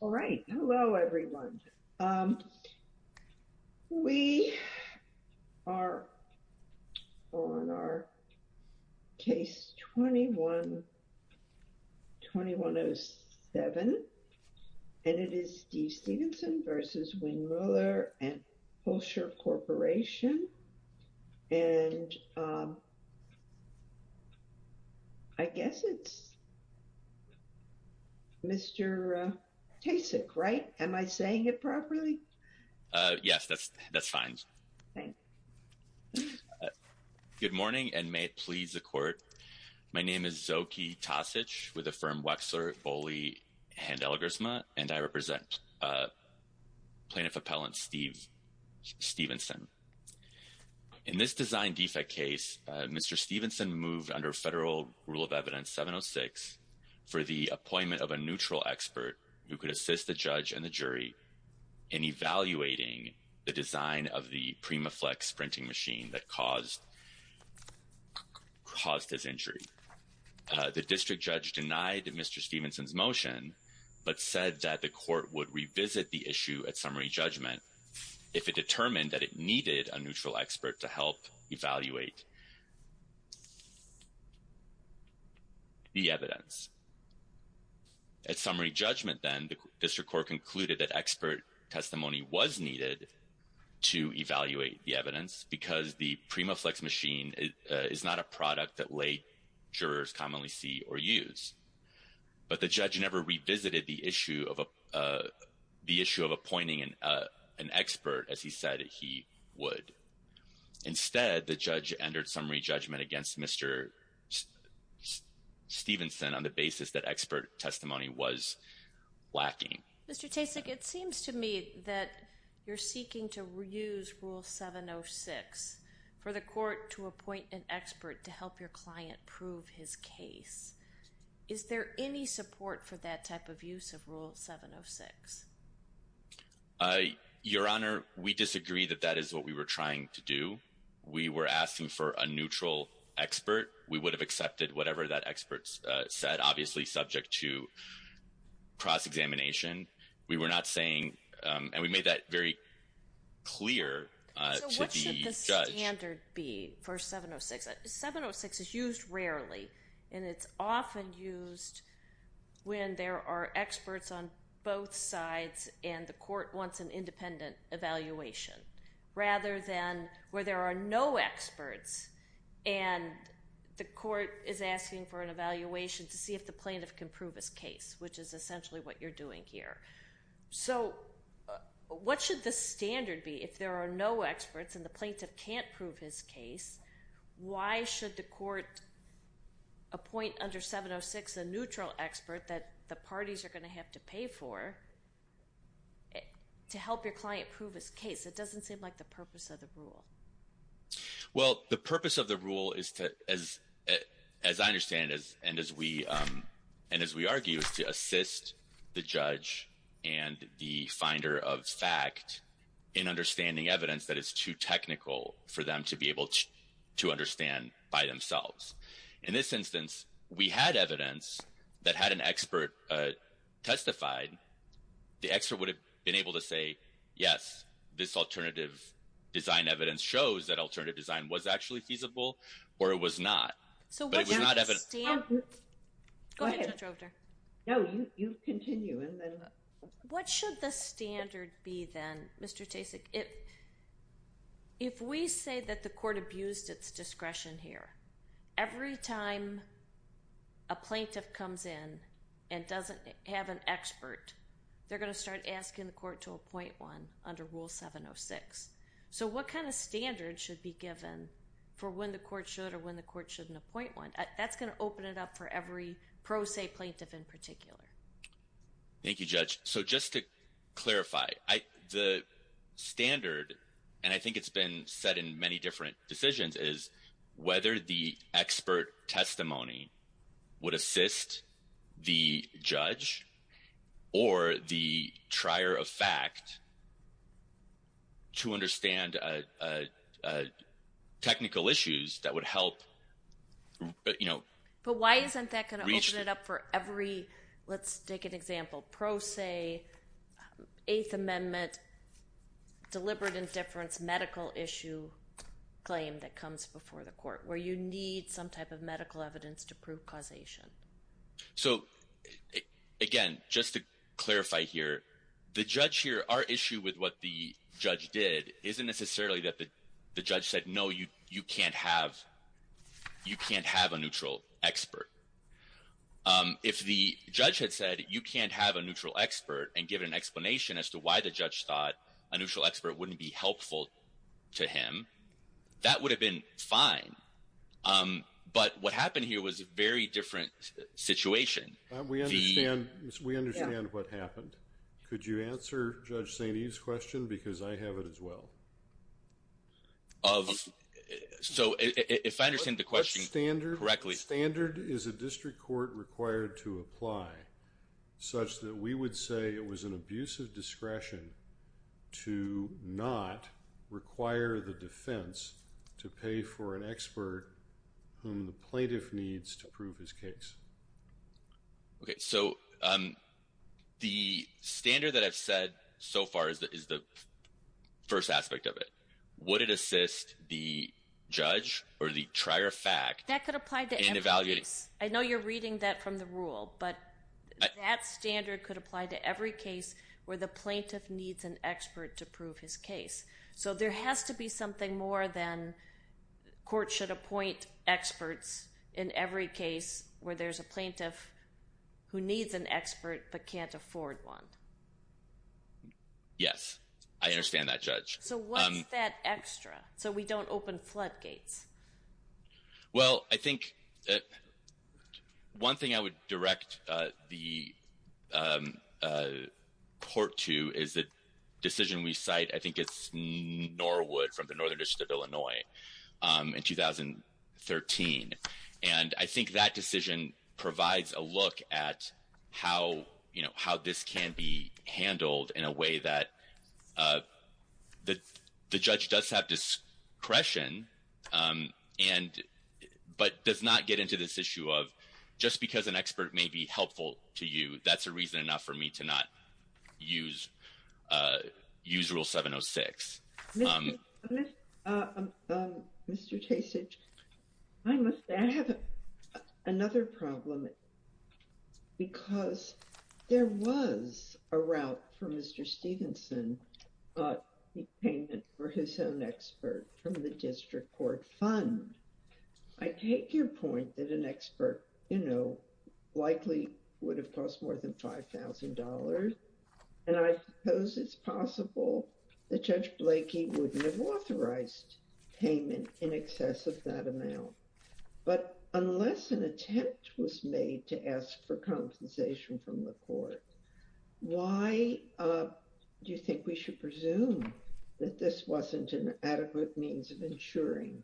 All right. Hello, everyone. We are on our case 21-2107. And it is Steve Stevenson v. Windmoeller & Hoelscher Corporation. And I guess it's Mr. Tasek, right? Am I saying it properly? Yes, that's fine. Good morning and may it please the court. My name is Zoki Tasek with the firm Wexler Boley & Elgersma, and I represent Plaintiff Appellant Steve Stevenson. In this design defect case, Mr. Stevenson moved under federal rule of evidence 706 for the appointment of a neutral expert who could assist the judge and the jury in evaluating the design of the PrimaFlex printing machine that caused his injury. The district judge denied Mr. Stevenson's motion but said that the court would revisit the issue at summary judgment if it determined that it needed a neutral expert to help evaluate the evidence. At summary judgment then, the district court concluded that expert testimony was needed to evaluate the evidence because the PrimaFlex machine is not a product that lay jurors commonly see or use. But the judge never revisited the issue of appointing an expert as he said he would. Instead, the judge entered summary judgment against Mr. Stevenson on the basis that expert testimony was lacking. Mr. Tasek, it seems to me that you're seeking to reuse rule 706 for the court to appoint an expert to help your client prove his case. Is there any support for that type of use of rule 706? Your Honor, we disagree that that is what we were trying to do. We were asking for a neutral expert. We would have accepted whatever that expert said, obviously subject to cross-examination. We were not saying, and we made that very clear to the judge. What should the standard be for 706? 706 is used rarely, and it's often used when there are experts on both sides and the court wants an independent evaluation, rather than where there are no experts and the court is asking for an evaluation to see if the plaintiff can prove his case, which is essentially what you're doing here. So what should the standard be if there are no experts and the plaintiff can't prove his case? Why should the court appoint under 706 a neutral expert that the parties are going to have to pay for to help your client prove his case? It doesn't seem like the purpose of the rule. Well, the purpose of the rule, as I understand it and as we argue, is to assist the judge and the finder of fact in understanding evidence that is too technical for them to be able to understand by themselves. In this instance, we had evidence that had an expert testified. The expert would have been able to say, yes, this alternative design evidence shows that alternative design was actually feasible, or it was not. So what should the standard be then, Mr. Tasik? If we say that the court abused its discretion here, every time a plaintiff comes in and doesn't have an expert, they're going to start asking the court to appoint one under Rule 706. So what kind of standard should be given for when the court should or when the court shouldn't appoint one? That's going to open it up for every pro se plaintiff in particular. Thank you, Judge. So just to clarify, the standard, and I think it's been said in many different decisions, is whether the expert testimony would assist the judge or the trier of fact to understand technical issues that would help. But why isn't that going to open it up for every, let's take an example, pro se, Eighth Amendment, deliberate indifference, medical issue claim that comes before the court, where you need some type of medical evidence to prove causation? So, again, just to clarify here, the judge here, our issue with what the judge did isn't necessarily that the judge said, no, you can't have a neutral expert. If the judge had said, you can't have a neutral expert and give an explanation as to why the judge thought a neutral expert wouldn't be helpful to him, that would have been fine. But what happened here was a very different situation. We understand what happened. Could you answer Judge St. Eve's question? Because I have it as well. So if I understand the question correctly. The standard is a district court required to apply such that we would say it was an abuse of discretion to not require the defense to pay for an expert whom the plaintiff needs to prove his case. Okay, so the standard that I've said so far is the first aspect of it. Would it assist the judge or the trier of fact? That could apply to every case. I know you're reading that from the rule, but that standard could apply to every case where the plaintiff needs an expert to prove his case. So there has to be something more than courts should appoint experts in every case where there's a plaintiff who needs an expert but can't afford one. Yes, I understand that, Judge. So what's that extra so we don't open floodgates? Well, I think one thing I would direct the court to is the decision we cite. I think it's Norwood from the Northern District of Illinois in 2013. And I think that decision provides a look at how this can be handled in a way that the judge does have discretion but does not get into this issue of just because an expert may be helpful to you, that's a reason enough for me to not use Rule 706. Mr. Chasage, I must add another problem because there was a route for Mr. Stevenson payment for his own expert from the district court fund. I take your point that an expert, you know, likely would have cost more than $5,000. And I suppose it's possible that Judge Blakey wouldn't have authorized payment in excess of that amount. But unless an attempt was made to ask for compensation from the court, why do you think we should presume that this wasn't an adequate means of ensuring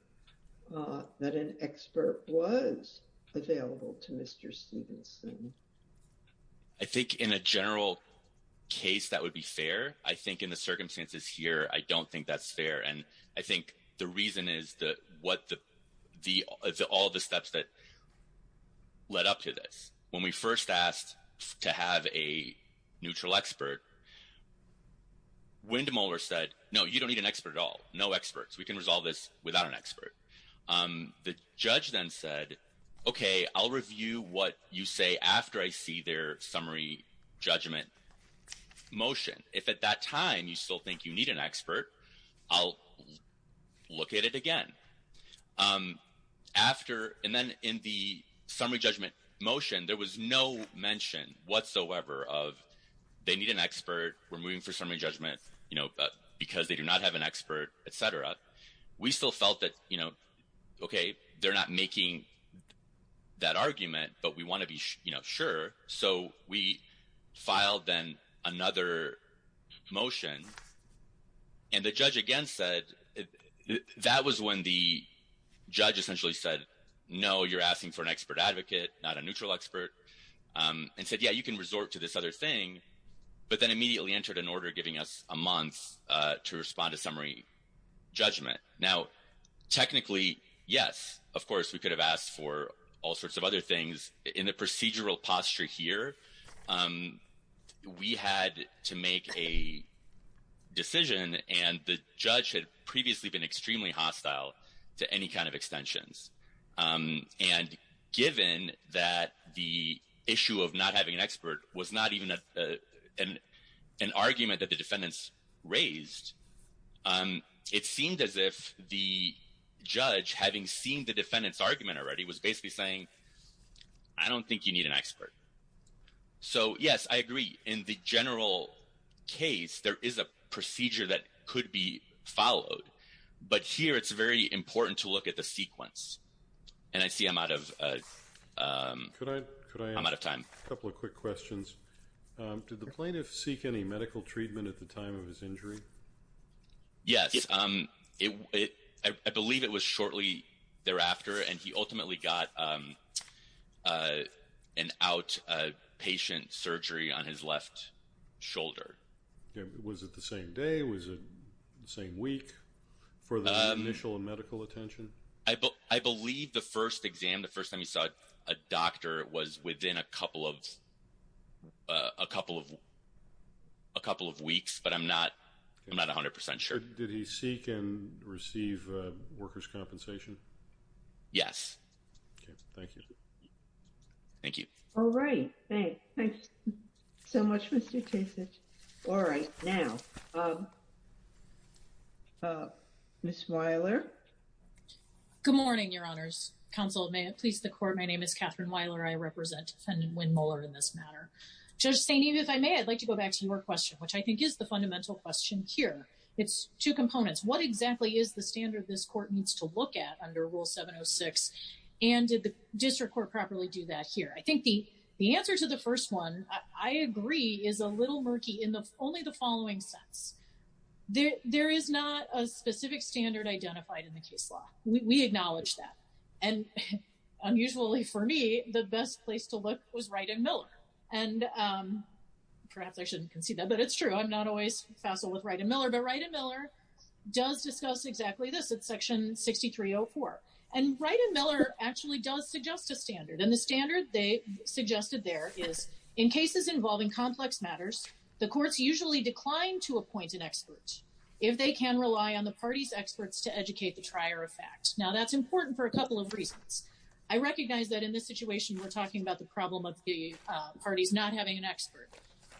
that an expert was available to Mr. Stevenson? I think in a general case, that would be fair. I think in the circumstances here, I don't think that's fair. And I think the reason is all the steps that led up to this. When we first asked to have a neutral expert, Windmuller said, no, you don't need an expert at all. No experts. We can resolve this without an expert. The judge then said, okay, I'll review what you say after I see their summary judgment motion. If at that time you still think you need an expert, I'll look at it again. And then in the summary judgment motion, there was no mention whatsoever of they need an expert. We're moving for summary judgment because they do not have an expert, et cetera. We still felt that, okay, they're not making that argument, but we want to be sure. So we filed then another motion. And the judge again said, that was when the judge essentially said, no, you're asking for an expert advocate, not a neutral expert. And said, yeah, you can resort to this other thing. But then immediately entered an order giving us a month to respond to summary judgment. Now, technically, yes, of course, we could have asked for all sorts of other things. In the procedural posture here, we had to make a decision, and the judge had previously been extremely hostile to any kind of extensions. And given that the issue of not having an expert was not even an argument that the defendants raised, it seemed as if the judge, having seen the defendant's argument already, was basically saying, I don't think you need an expert. So, yes, I agree. In the general case, there is a procedure that could be followed. But here it's very important to look at the sequence. And I see I'm out of time. Could I ask a couple of quick questions? Did the plaintiff seek any medical treatment at the time of his injury? Yes. I believe it was shortly thereafter, and he ultimately got an outpatient surgery on his left shoulder. Was it the same day? Was it the same week for the initial medical attention? I believe the first exam, the first time he saw a doctor, was within a couple of weeks, but I'm not 100% sure. Did he seek and receive workers' compensation? Yes. Okay. Thank you. Thank you. All right. All right. Thank you so much, Mr. Chasich. All right. Now, Ms. Weiler. Good morning, Your Honors. Counsel, may it please the Court, my name is Catherine Weiler. I represent Defendant Wynn Mueller in this matter. Judge Stainey, if I may, I'd like to go back to your question, which I think is the fundamental question here. It's two components. What exactly is the standard this Court needs to look at under Rule 706? And did the district court properly do that here? I think the answer to the first one, I agree, is a little murky in only the following sense. There is not a specific standard identified in the case law. We acknowledge that. And unusually for me, the best place to look was Wright and Miller. And perhaps I shouldn't concede that, but it's true. I'm not always facile with Wright and Miller. But Wright and Miller does discuss exactly this at Section 6304. And Wright and Miller actually does suggest a standard. And the standard they suggested there is, in cases involving complex matters, the courts usually decline to appoint an expert if they can rely on the party's experts to educate the trier of fact. Now, that's important for a couple of reasons. I recognize that in this situation we're talking about the problem of the parties not having an expert.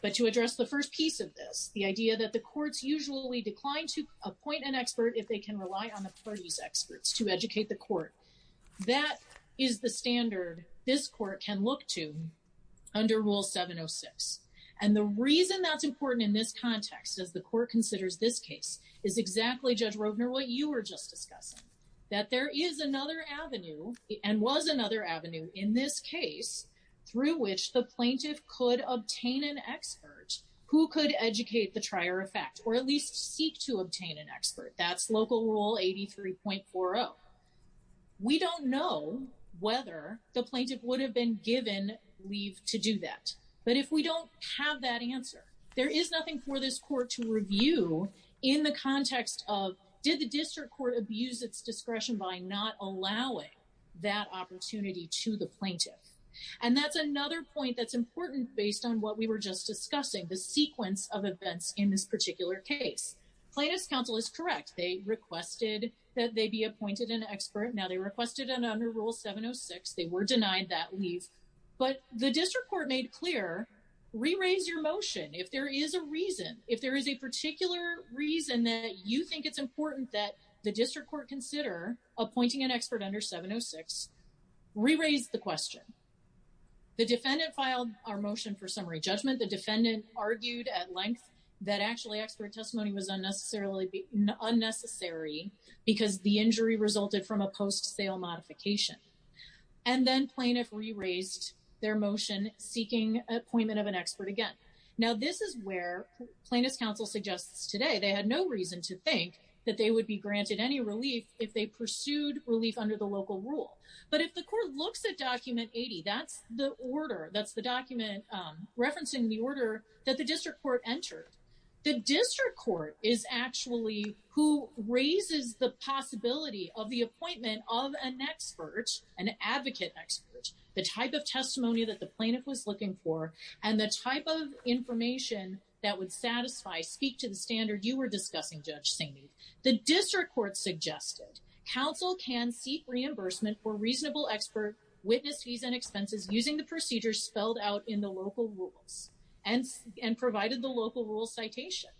But to address the first piece of this, the idea that the courts usually decline to appoint an expert if they can rely on the party's experts to educate the court. That is the standard this court can look to under Rule 706. And the reason that's important in this context, as the court considers this case, is exactly, Judge Rovner, what you were just discussing. That there is another avenue, and was another avenue, in this case, through which the plaintiff could obtain an expert who could educate the trier of fact, or at least seek to obtain an expert. That's Local Rule 83.40. We don't know whether the plaintiff would have been given leave to do that. But if we don't have that answer, there is nothing for this court to review in the context of, did the district court abuse its discretion by not allowing that opportunity to the plaintiff? And that's another point that's important based on what we were just discussing, the sequence of events in this particular case. Plaintiff's counsel is correct. They requested that they be appointed an expert. Now, they requested it under Rule 706. They were denied that leave. But the district court made clear, re-raise your motion. If there is a reason, if there is a particular reason that you think it's important that the district court consider appointing an expert under 706, re-raise the question. The defendant filed our motion for summary judgment. The defendant argued at length that actually expert testimony was unnecessary because the injury resulted from a post-sale modification. And then plaintiff re-raised their motion seeking appointment of an expert again. Now, this is where plaintiff's counsel suggests today they had no reason to think that they would be granted any relief if they pursued relief under the Local Rule. But if the court looks at Document 80, that's the order, that's the document referencing the order that the district court entered. The district court is actually who raises the possibility of the appointment of an expert, an advocate expert, the type of testimony that the plaintiff was looking for, and the type of information that would satisfy, speak to the standard you were discussing, Judge Saini. The district court suggested counsel can seek reimbursement for reasonable expert witness fees and expenses using the procedures spelled out in the Local Rules and provided the Local Rule citation.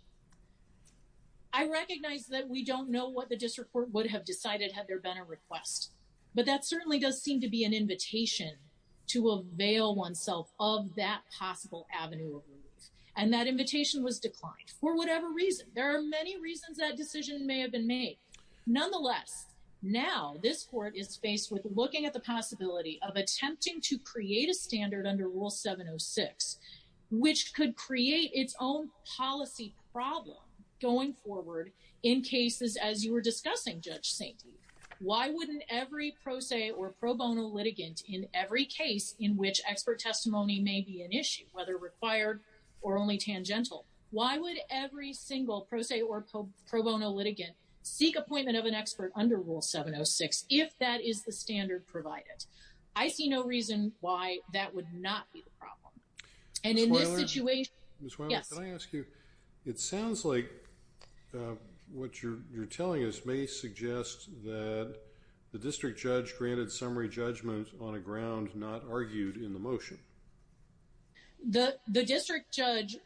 I recognize that we don't know what the district court would have decided had there been a request, but that certainly does seem to be an invitation to avail oneself of that possible avenue of relief. And that invitation was declined for whatever reason. There are many reasons that decision may have been made. Nonetheless, now this court is faced with looking at the possibility of attempting to create a standard under Rule 706, which could create its own policy problem going forward in cases as you were discussing, Judge Saini. Why wouldn't every pro se or pro bono litigant in every case in which expert testimony may be an issue, whether required or only tangential, why would every single pro se or pro bono litigant seek appointment of an expert under Rule 706 if that is the standard provided? I see no reason why that would not be the problem. Ms. Weiler, can I ask you, it sounds like what you're telling us may suggest that the district judge granted summary judgment on a ground not argued in the motion. The district judge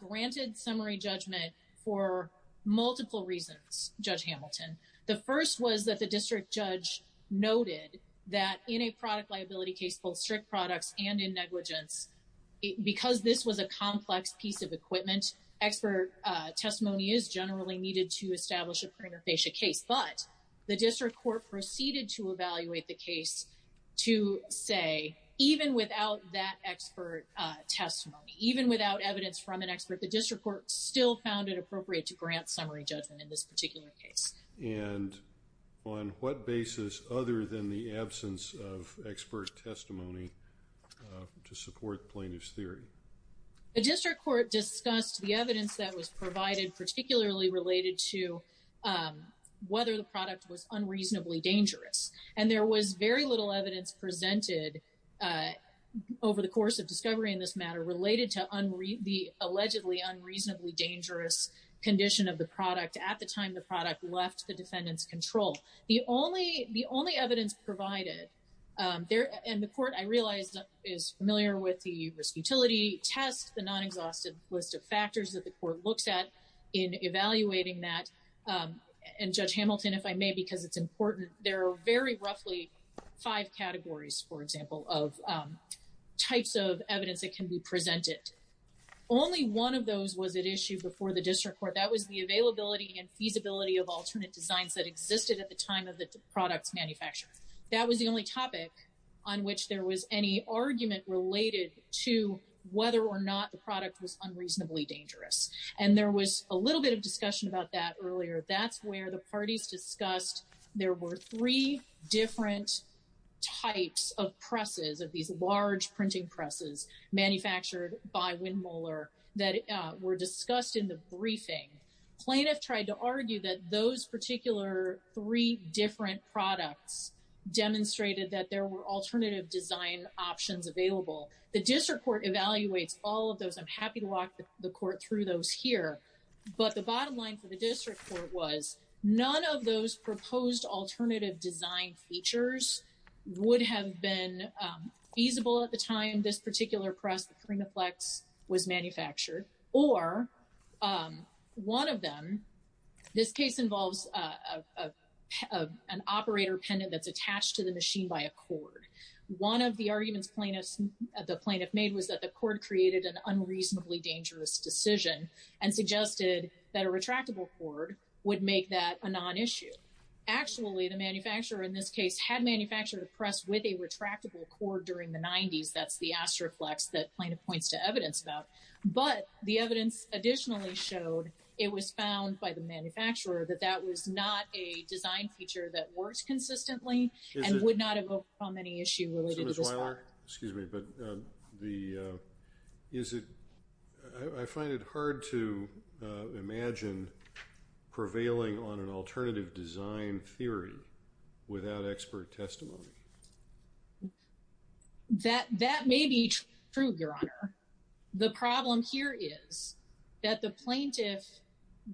granted summary judgment for multiple reasons, Judge Hamilton. The first was that the district judge noted that in a product liability case both strict products and in negligence, because this was a complex piece of equipment, expert testimony is generally needed to establish a prima facie case. But the district court proceeded to evaluate the case to say, even without that expert testimony, even without evidence from an expert, the district court still found it appropriate to grant summary judgment in this particular case. And on what basis other than the absence of expert testimony to support plaintiff's theory? The district court discussed the evidence that was provided, particularly related to whether the product was unreasonably dangerous. And there was very little evidence presented over the course of discovery in this matter related to the allegedly unreasonably dangerous condition of the product at the time the product left the defendant's control. The only evidence provided, and the court, I realize, is familiar with the risk utility test, the non-exhaustive list of factors that the court looks at in evaluating that. And Judge Hamilton, if I may, because it's important, there are very roughly five categories, for example, of types of evidence that can be presented. Only one of those was at issue before the district court. That was the availability and feasibility of alternate designs that existed at the time of the product's manufacture. That was the only topic on which there was any argument related to whether or not the product was unreasonably dangerous. And there was a little bit of discussion about that earlier. That's where the parties discussed there were three different types of presses, of these large printing presses manufactured by Windmuller, that were discussed in the briefing. Plaintiff tried to argue that those particular three different products demonstrated that there were alternative design options available. The district court evaluates all of those. I'm happy to walk the court through those here. But the bottom line for the district court was, none of those proposed alternative design features would have been feasible at the time this particular press, the Primaflex, was manufactured. Or one of them, this case involves an operator pendant that's attached to the machine by a cord. One of the arguments the plaintiff made was that the cord created an unreasonably dangerous decision and suggested that a retractable cord would make that a non-issue. Actually, the manufacturer in this case had manufactured the press with a retractable cord during the 90s. That's the Astroflex that plaintiff points to evidence about. But the evidence additionally showed it was found by the manufacturer that that was not a design feature that works consistently and would not have overcome any issue related to this product. Excuse me, but I find it hard to imagine prevailing on an alternative design theory without expert testimony. That may be true, Your Honor. The problem here is that the plaintiff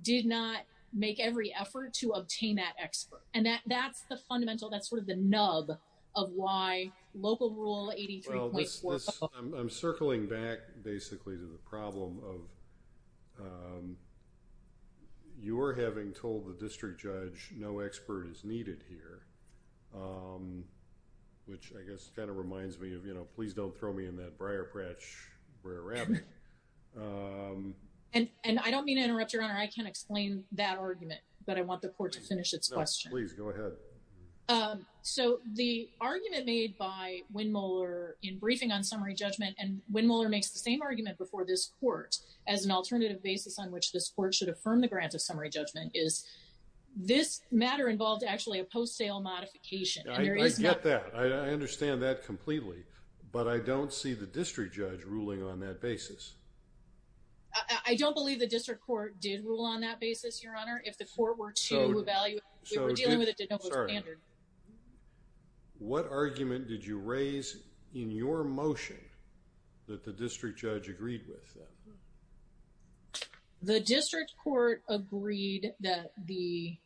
did not make every effort to obtain that expert. And that's the fundamental, that's sort of the nub of why Local Rule 83.4. Well, I'm circling back basically to the problem of your having told the district judge no expert is needed here, which I guess kind of reminds me of, you know, please don't throw me in that briar patch where I'm wrapping. Your Honor, I can't explain that argument, but I want the court to finish its question. Please, go ahead. So the argument made by Wynn-Muller in briefing on summary judgment, and Wynn-Muller makes the same argument before this court as an alternative basis on which this court should affirm the grant of summary judgment, is this matter involved actually a post-sale modification. I get that. I understand that completely. But I don't see the district judge ruling on that basis. I don't believe the district court did rule on that basis, Your Honor, if the court were to evaluate. We were dealing with a de novo standard. What argument did you raise in your motion that the district judge agreed with? The district court agreed that the,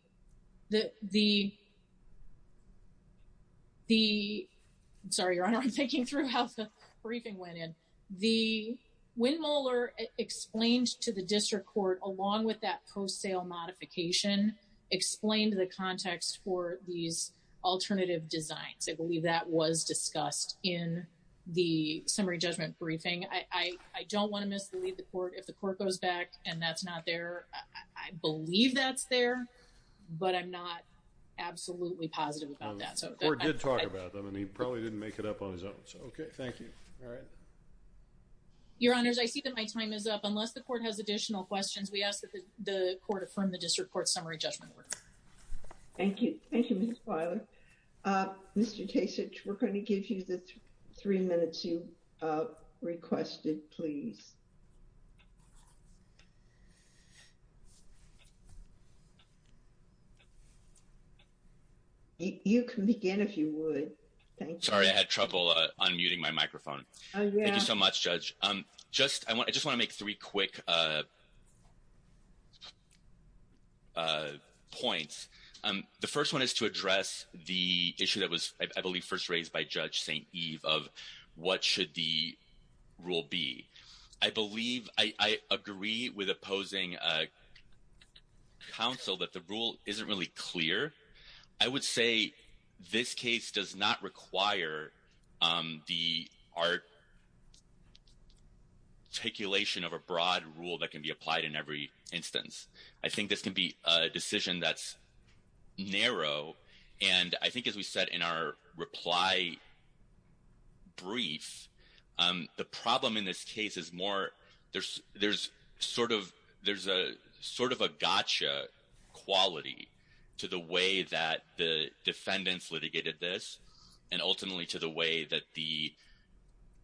sorry, Your Honor, I'm thinking through how the briefing went in. The Wynn-Muller explained to the district court, along with that post-sale modification, explained the context for these alternative designs. I believe that was discussed in the summary judgment briefing. I don't want to mislead the court. If the court goes back and that's not there, I believe that's there, but I'm not absolutely positive about that. The court did talk about them, and he probably didn't make it up on his own. Okay. Thank you. All right. Your Honors, I see that my time is up. Unless the court has additional questions, we ask that the court affirm the district court's summary judgment. Thank you. Thank you, Ms. Pilar. Mr. Kasich, we're going to give you the three minutes you requested, please. You can begin if you would. Thank you. Sorry, I had trouble unmuting my microphone. Oh, yeah. Thank you so much, Judge. I just want to make three quick points. The first one is to address the issue that was, I believe, first raised by Judge St. Eve of what should the rule be. I believe I agree with opposing counsel that the rule isn't really clear. I would say this case does not require the articulation of a broad rule that can be applied in every instance. I think this can be a decision that's narrow, and I think as we said in our reply brief, the problem in this case is more there's sort of a gotcha quality to the way that the defendants litigated this and ultimately to the way that the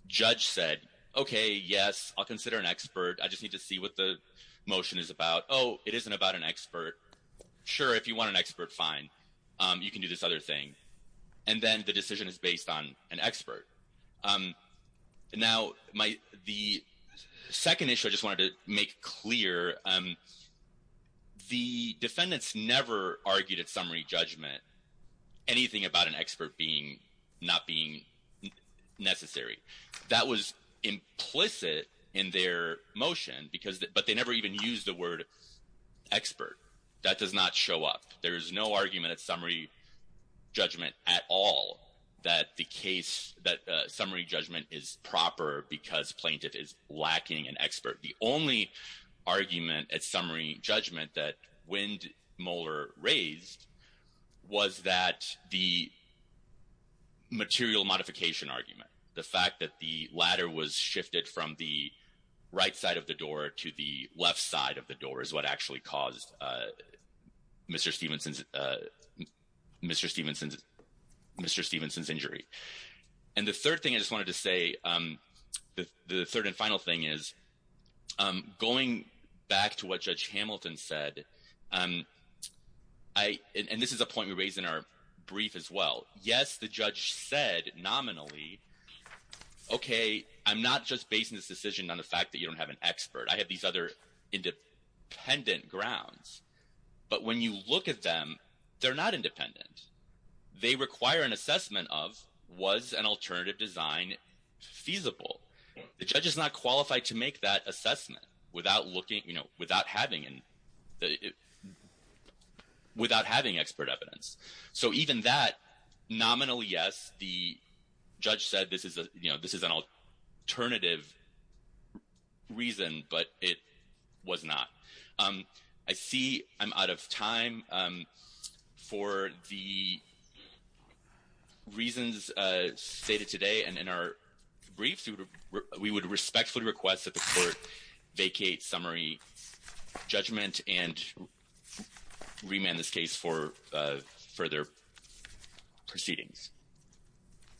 judge said, okay, yes, I'll consider an expert. I just need to see what the motion is about. Oh, it isn't about an expert. Sure, if you want an expert, fine. You can do this other thing. And then the decision is based on an expert. Now, the second issue I just wanted to make clear, the defendants never argued at summary judgment anything about an expert not being necessary. That was implicit in their motion, but they never even used the word expert. That does not show up. There is no argument at summary judgment at all that the case, that summary judgment is proper because plaintiff is lacking an expert. The only argument at summary judgment that Windmuller raised was that the material modification argument, the fact that the ladder was shifted from the right side of the door to the Mr. Stevenson's injury. And the third thing I just wanted to say, the third and final thing is going back to what Judge Hamilton said, and this is a point we raised in our brief as well. Yes, the judge said nominally, okay, I'm not just basing this decision on the fact that you don't have an expert. I have these other independent grounds. But when you look at them, they're not independent. They require an assessment of was an alternative design feasible. The judge is not qualified to make that assessment without having expert evidence. So even that, nominally, yes, the judge said this is an alternative reason, but it was not. I see I'm out of time. For the reasons stated today and in our briefs, we would respectfully request that the court vacate summary judgment and remand this case for further proceedings.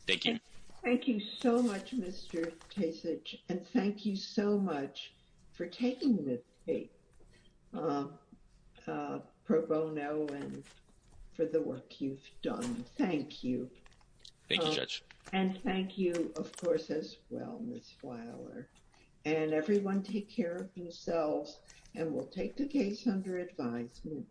Thank you. Thank you so much, Mr. Kasich. And thank you so much for taking this case, Pro Bono, and for the work you've done. Thank you. Thank you, Judge. And thank you, of course, as well, Ms. Fowler. And everyone take care of themselves, and we'll take the case under advisement.